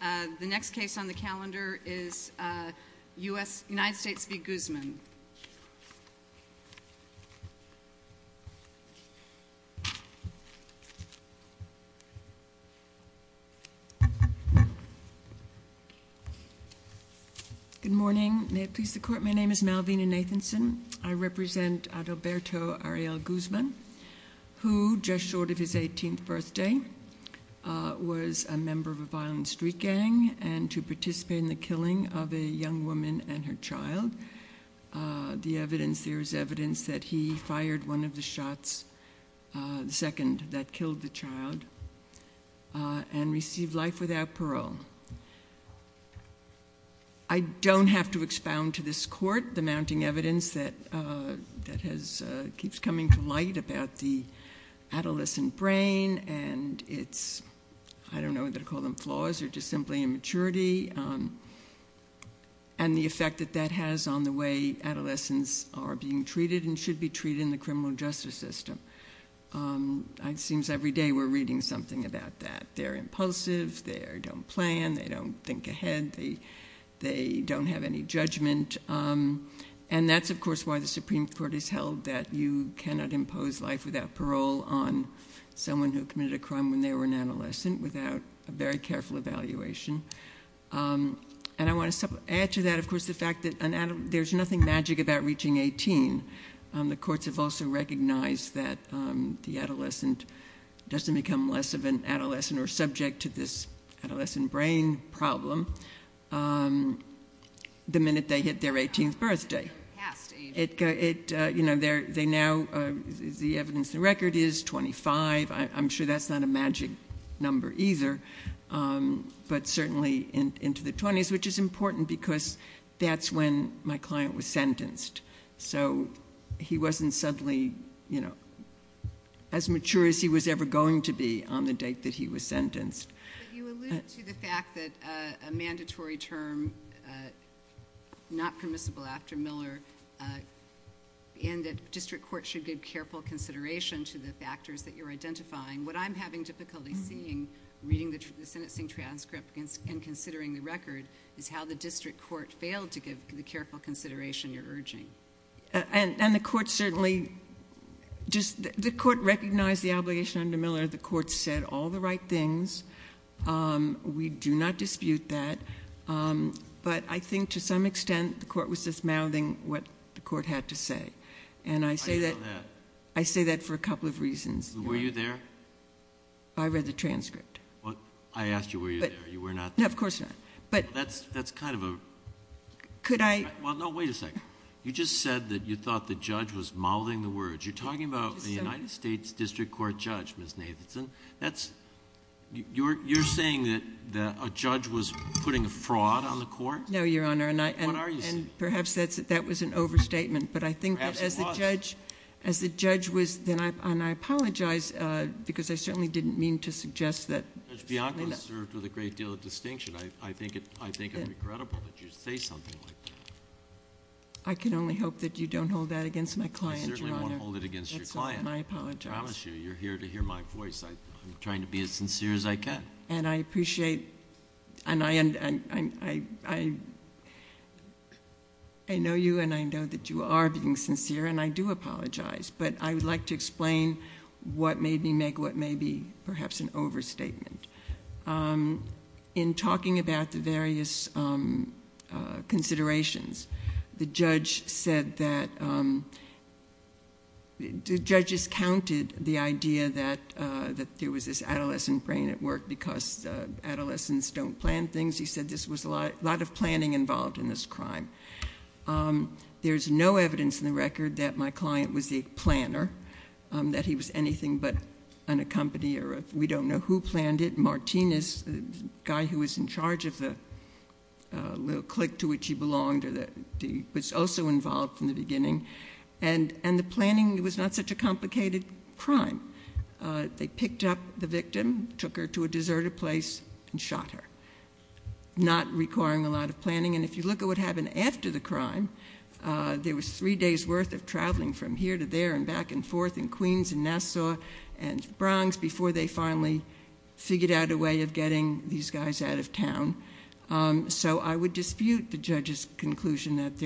The next case on the calendar is United States v. Guzman. Good morning. May it please the court, my name is Malvina Nathanson. I represent Alberto Ariel Guzman, who, just short of his 18th birthday, was a member of a violent street gang and to participate in the killing of a young woman and her child. There is evidence that he fired one of the shots, the second that killed the child, and received life without parole. I don't have to expound to this court the mounting evidence that keeps coming to light about the adolescent brain and its, I don't know whether to call them flaws, or just simply immaturity, and the effect that that has on the way adolescents are being treated and should be treated in the criminal justice system. It seems every day we're reading something about that. They're impulsive, they don't plan, they don't think ahead, they don't have any judgment. And that's, of course, why the Supreme Court has held that you cannot impose life without parole on someone who committed a crime when they were an adolescent without a very careful evaluation. And I want to add to that, of course, the fact that there's nothing magic about reaching 18. The courts have also recognized that the adolescent doesn't become less of an adolescent or subject to this adolescent brain problem the minute they hit their 18th birthday. You know, the evidence in the record is 25. I'm sure that's not a magic number either. But certainly into the 20s, which is important because that's when my client was sentenced. So he wasn't suddenly as mature as he was ever going to be on the date that he was sentenced. But you allude to the fact that a mandatory term not permissible after Miller and that district courts should give careful consideration to the factors that you're identifying. What I'm having difficulty seeing, reading the sentencing transcript and considering the record, is how the district court failed to give the careful consideration you're urging. And the court certainly... The court recognized the obligation under Miller. The court said all the right things. We do not dispute that. But I think to some extent the court was just mouthing what the court had to say. And I say that for a couple of reasons. Were you there? I read the transcript. I asked you were you there. You were not there. No, of course not. That's kind of a... Could I... No, wait a second. You just said that you thought the judge was mouthing the words. You're talking about a United States district court judge, Ms. Nathanson. That's... You're saying that a judge was putting a fraud on the court? No, Your Honor. What are you saying? And perhaps that was an overstatement. Perhaps it was. But I think that as the judge was... And I apologize because I certainly didn't mean to suggest that... Judge Bianco served with a great deal of distinction. I think it's regrettable that you say something like that. I can only hope that you don't hold that against my client, Your Honor. I certainly won't hold it against your client. That's all, and I apologize. I promise you, you're here to hear my voice. I'm trying to be as sincere as I can. And I appreciate, and I know you, and I know that you are being sincere, and I do apologize. But I would like to explain what made me make what may be perhaps an overstatement. In talking about the various considerations, the judge said that... The judge discounted the idea that there was this adolescent brain at work because adolescents don't plan things. He said there was a lot of planning involved in this crime. There's no evidence in the record that my client was the planner, that he was anything but an accompanier. We don't know who planned it. Martinez, the guy who was in charge of the little clique to which he belonged, was also involved from the beginning. And the planning was not such a complicated crime. They picked up the victim, took her to a deserted place, and shot her, not requiring a lot of planning. And if you look at what happened after the crime, there was three days' worth of traveling from here to there and back and forth in Queens and Nassau and Bronx before they finally figured out a way of getting these guys out of town. So I would dispute the judge's conclusion that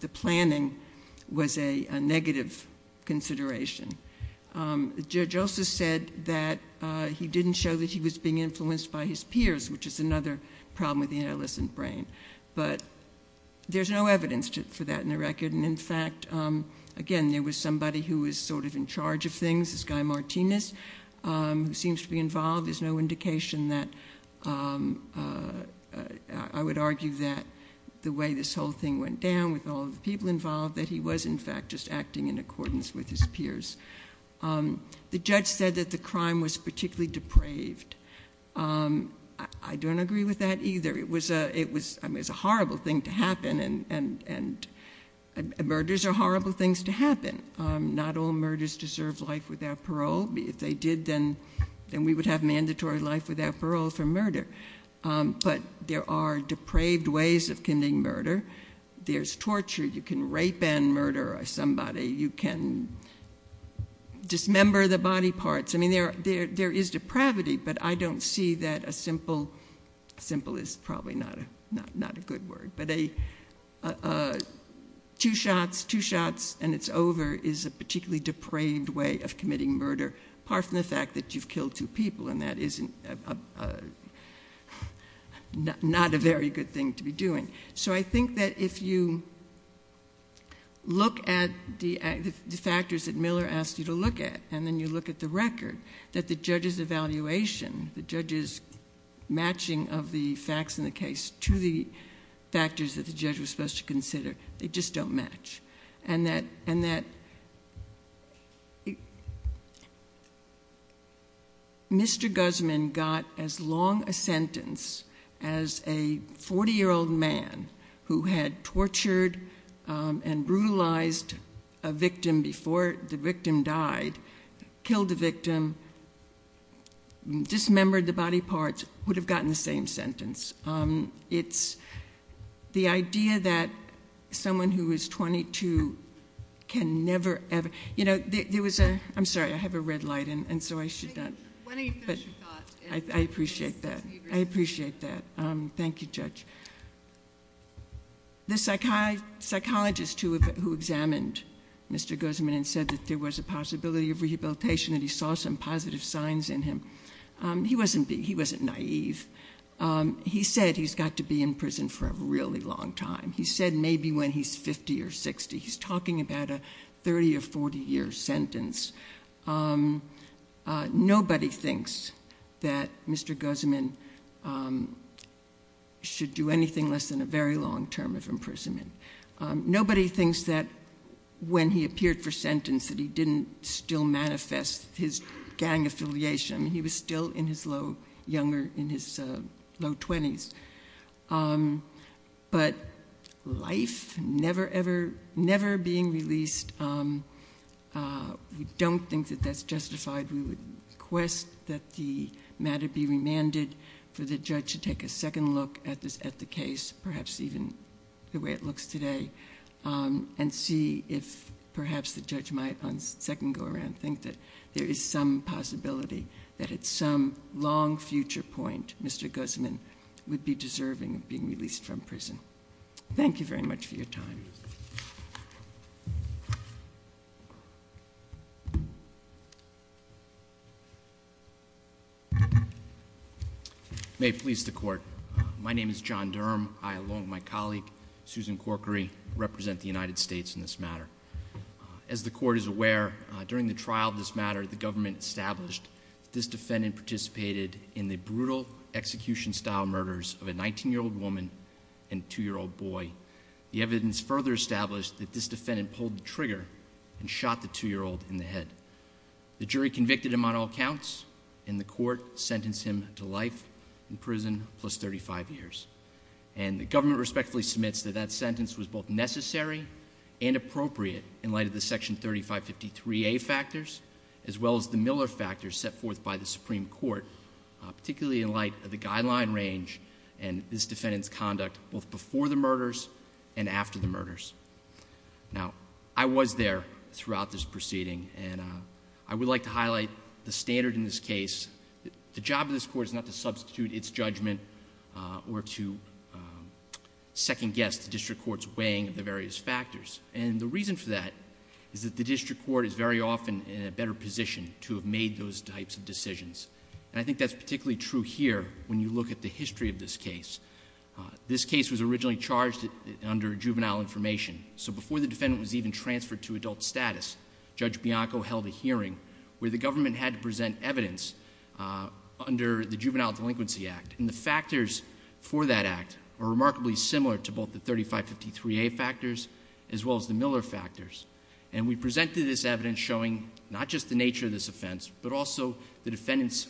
the planning was a negative consideration. The judge also said that he didn't show that he was being influenced by his peers, which is another problem with the adolescent brain. But there's no evidence for that in the record. And, in fact, again, there was somebody who was sort of in charge of things, this guy Martinez, who seems to be involved. There's no indication that I would argue that the way this whole thing went down with all of the people involved, that he was, in fact, just acting in accordance with his peers. The judge said that the crime was particularly depraved. I don't agree with that either. It was a horrible thing to happen, and murders are horrible things to happen. Not all murders deserve life without parole. If they did, then we would have mandatory life without parole for murder. But there are depraved ways of committing murder. There's torture. You can rape and murder somebody. You can dismember the body parts. I mean, there is depravity, but I don't see that a simple, simple is probably not a good word, but two shots, two shots, and it's over is a particularly depraved way of committing murder, apart from the fact that you've killed two people, and that is not a very good thing to be doing. So I think that if you look at the factors that Miller asked you to look at and then you look at the record, that the judge's evaluation, the judge's matching of the facts in the case to the factors that the judge was supposed to consider, they just don't match, and that Mr. Guzman got as long a sentence as a 40-year-old man who had tortured and brutalized a victim before the victim died, killed the victim, dismembered the body parts, would have gotten the same sentence. It's the idea that someone who is 22 can never ever ‑‑ you know, there was a ‑‑ I'm sorry. I have a red light, and so I should not. When are you going to finish your thoughts? I appreciate that. I appreciate that. Thank you, Judge. The psychologist who examined Mr. Guzman and said that there was a possibility of rehabilitation and he saw some positive signs in him, he wasn't naïve. He said he's got to be in prison for a really long time. He said maybe when he's 50 or 60. He's talking about a 30 or 40-year sentence. Nobody thinks that Mr. Guzman should do anything less than a very long term of imprisonment. Nobody thinks that when he appeared for sentence that he didn't still manifest his gang affiliation. He was still in his low 20s. But life never, ever, never being released, we don't think that that's justified. We request that the matter be remanded for the judge to take a second look at the case, perhaps even the way it looks today, and see if perhaps the judge might on second go around and think that there is some possibility that at some long future point, Mr. Guzman would be deserving of being released from prison. Thank you very much for your time. May it please the court. My name is John Durham. I, along with my colleague, Susan Corkery, represent the United States in this matter. As the court is aware, during the trial of this matter, the government established that this defendant participated in the brutal execution-style murders of a 19-year-old woman and a 2-year-old boy. The evidence further established that this defendant pulled the trigger and shot the 2-year-old in the head. The jury convicted him on all counts, and the court sentenced him to life in prison plus 35 years. And the government respectfully submits that that sentence was both necessary and appropriate in light of the Section 3553A factors, as well as the Miller factors set forth by the Supreme Court, particularly in light of the guideline range and this defendant's conduct both before the murders and after the murders. Now, I was there throughout this proceeding, and I would like to highlight the standard in this case. The job of this court is not to substitute its judgment or to second-guess the district court's weighing of the various factors. And the reason for that is that the district court is very often in a better position to have made those types of decisions. And I think that's particularly true here when you look at the history of this case. This case was originally charged under juvenile information. So before the defendant was even transferred to adult status, Judge Bianco held a hearing where the government had to present evidence under the Juvenile Delinquency Act. And the factors for that act are remarkably similar to both the 3553A factors as well as the Miller factors. And we presented this evidence showing not just the nature of this offense, but also the defendant's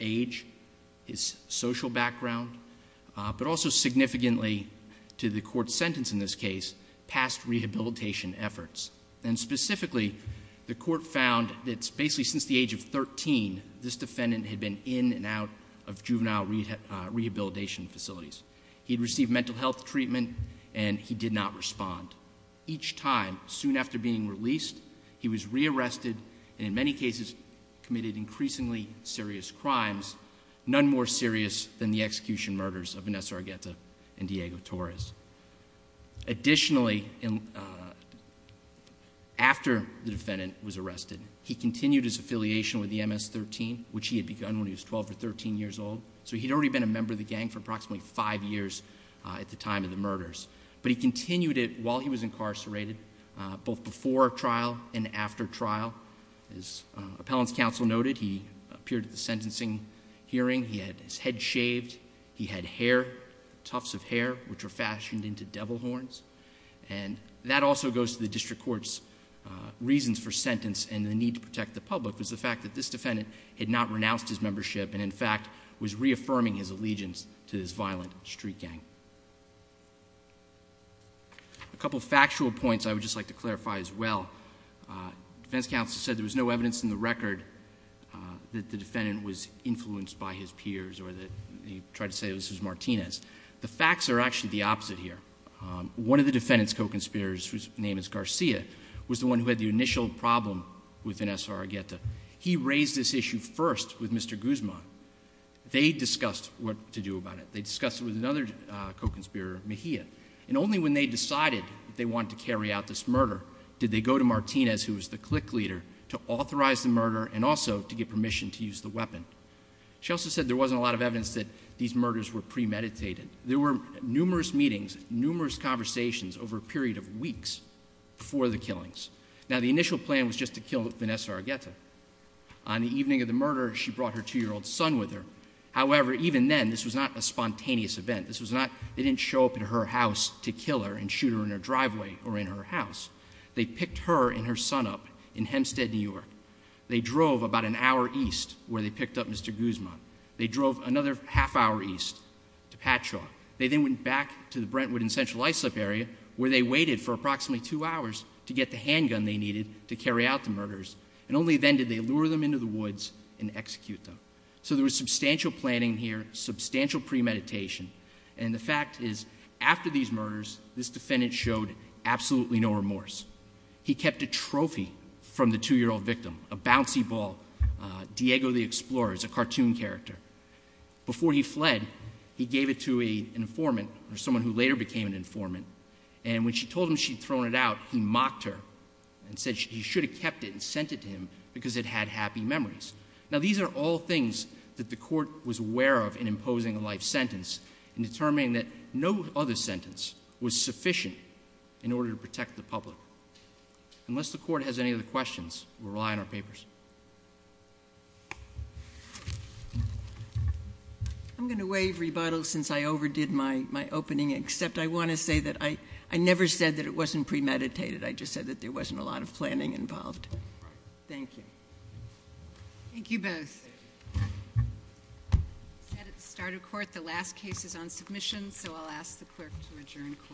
age, his social background, but also significantly to the court's sentence in this case, past rehabilitation efforts. And specifically, the court found that basically since the age of 13, this defendant had been in and out of juvenile rehabilitation facilities. He had received mental health treatment, and he did not respond. Each time, soon after being released, he was rearrested and in many cases committed increasingly serious crimes, none more serious than the execution murders of Vanessa Argueta and Diego Torres. Additionally, after the defendant was arrested, he continued his affiliation with the MS-13, which he had begun when he was 12 or 13 years old. So he had already been a member of the gang for approximately five years at the time of the murders. But he continued it while he was incarcerated, both before trial and after trial. As appellant's counsel noted, he appeared at the sentencing hearing. He had his head shaved. He had hair, tufts of hair, which were fashioned into devil horns. And that also goes to the district court's reasons for sentence and the need to protect the public, was the fact that this defendant had not renounced his membership and, in fact, was reaffirming his allegiance to this violent street gang. A couple of factual points I would just like to clarify as well. Defense counsel said there was no evidence in the record that the defendant was influenced by his peers or that he tried to say this was Martinez. The facts are actually the opposite here. One of the defendant's co-conspirators, whose name is Garcia, was the one who had the initial problem with Vanessa Argueta. He raised this issue first with Mr. Guzman. They discussed what to do about it. They discussed it with another co-conspirator, Mejia. And only when they decided they wanted to carry out this murder did they go to Martinez, who was the clique leader, to authorize the murder and also to get permission to use the weapon. She also said there wasn't a lot of evidence that these murders were premeditated. There were numerous meetings, numerous conversations over a period of weeks before the killings. Now, the initial plan was just to kill Vanessa Argueta. On the evening of the murder, she brought her 2-year-old son with her. However, even then, this was not a spontaneous event. They didn't show up at her house to kill her and shoot her in her driveway or in her house. They picked her and her son up in Hempstead, New York. They drove about an hour east where they picked up Mr. Guzman. They drove another half hour east to Patshaw. They then went back to the Brentwood and Central Islip area where they waited for approximately 2 hours to get the handgun they needed to carry out the murders. And only then did they lure them into the woods and execute them. So there was substantial planning here, substantial premeditation. And the fact is, after these murders, this defendant showed absolutely no remorse. He kept a trophy from the 2-year-old victim, a bouncy ball, Diego the Explorer. It's a cartoon character. Before he fled, he gave it to an informant or someone who later became an informant. And when she told him she'd thrown it out, he mocked her and said he should have kept it and sent it to him because it had happy memories. Now, these are all things that the court was aware of in imposing a life sentence and determining that no other sentence was sufficient in order to protect the public. Unless the court has any other questions, we'll rely on our papers. I'm going to waive rebuttal since I overdid my opening, except I want to say that I never said that it wasn't premeditated. I just said that there wasn't a lot of planning involved. Thank you. Thank you both. At the start of court, the last case is on submission, so I'll ask the clerk to adjourn court. Court is adjourned.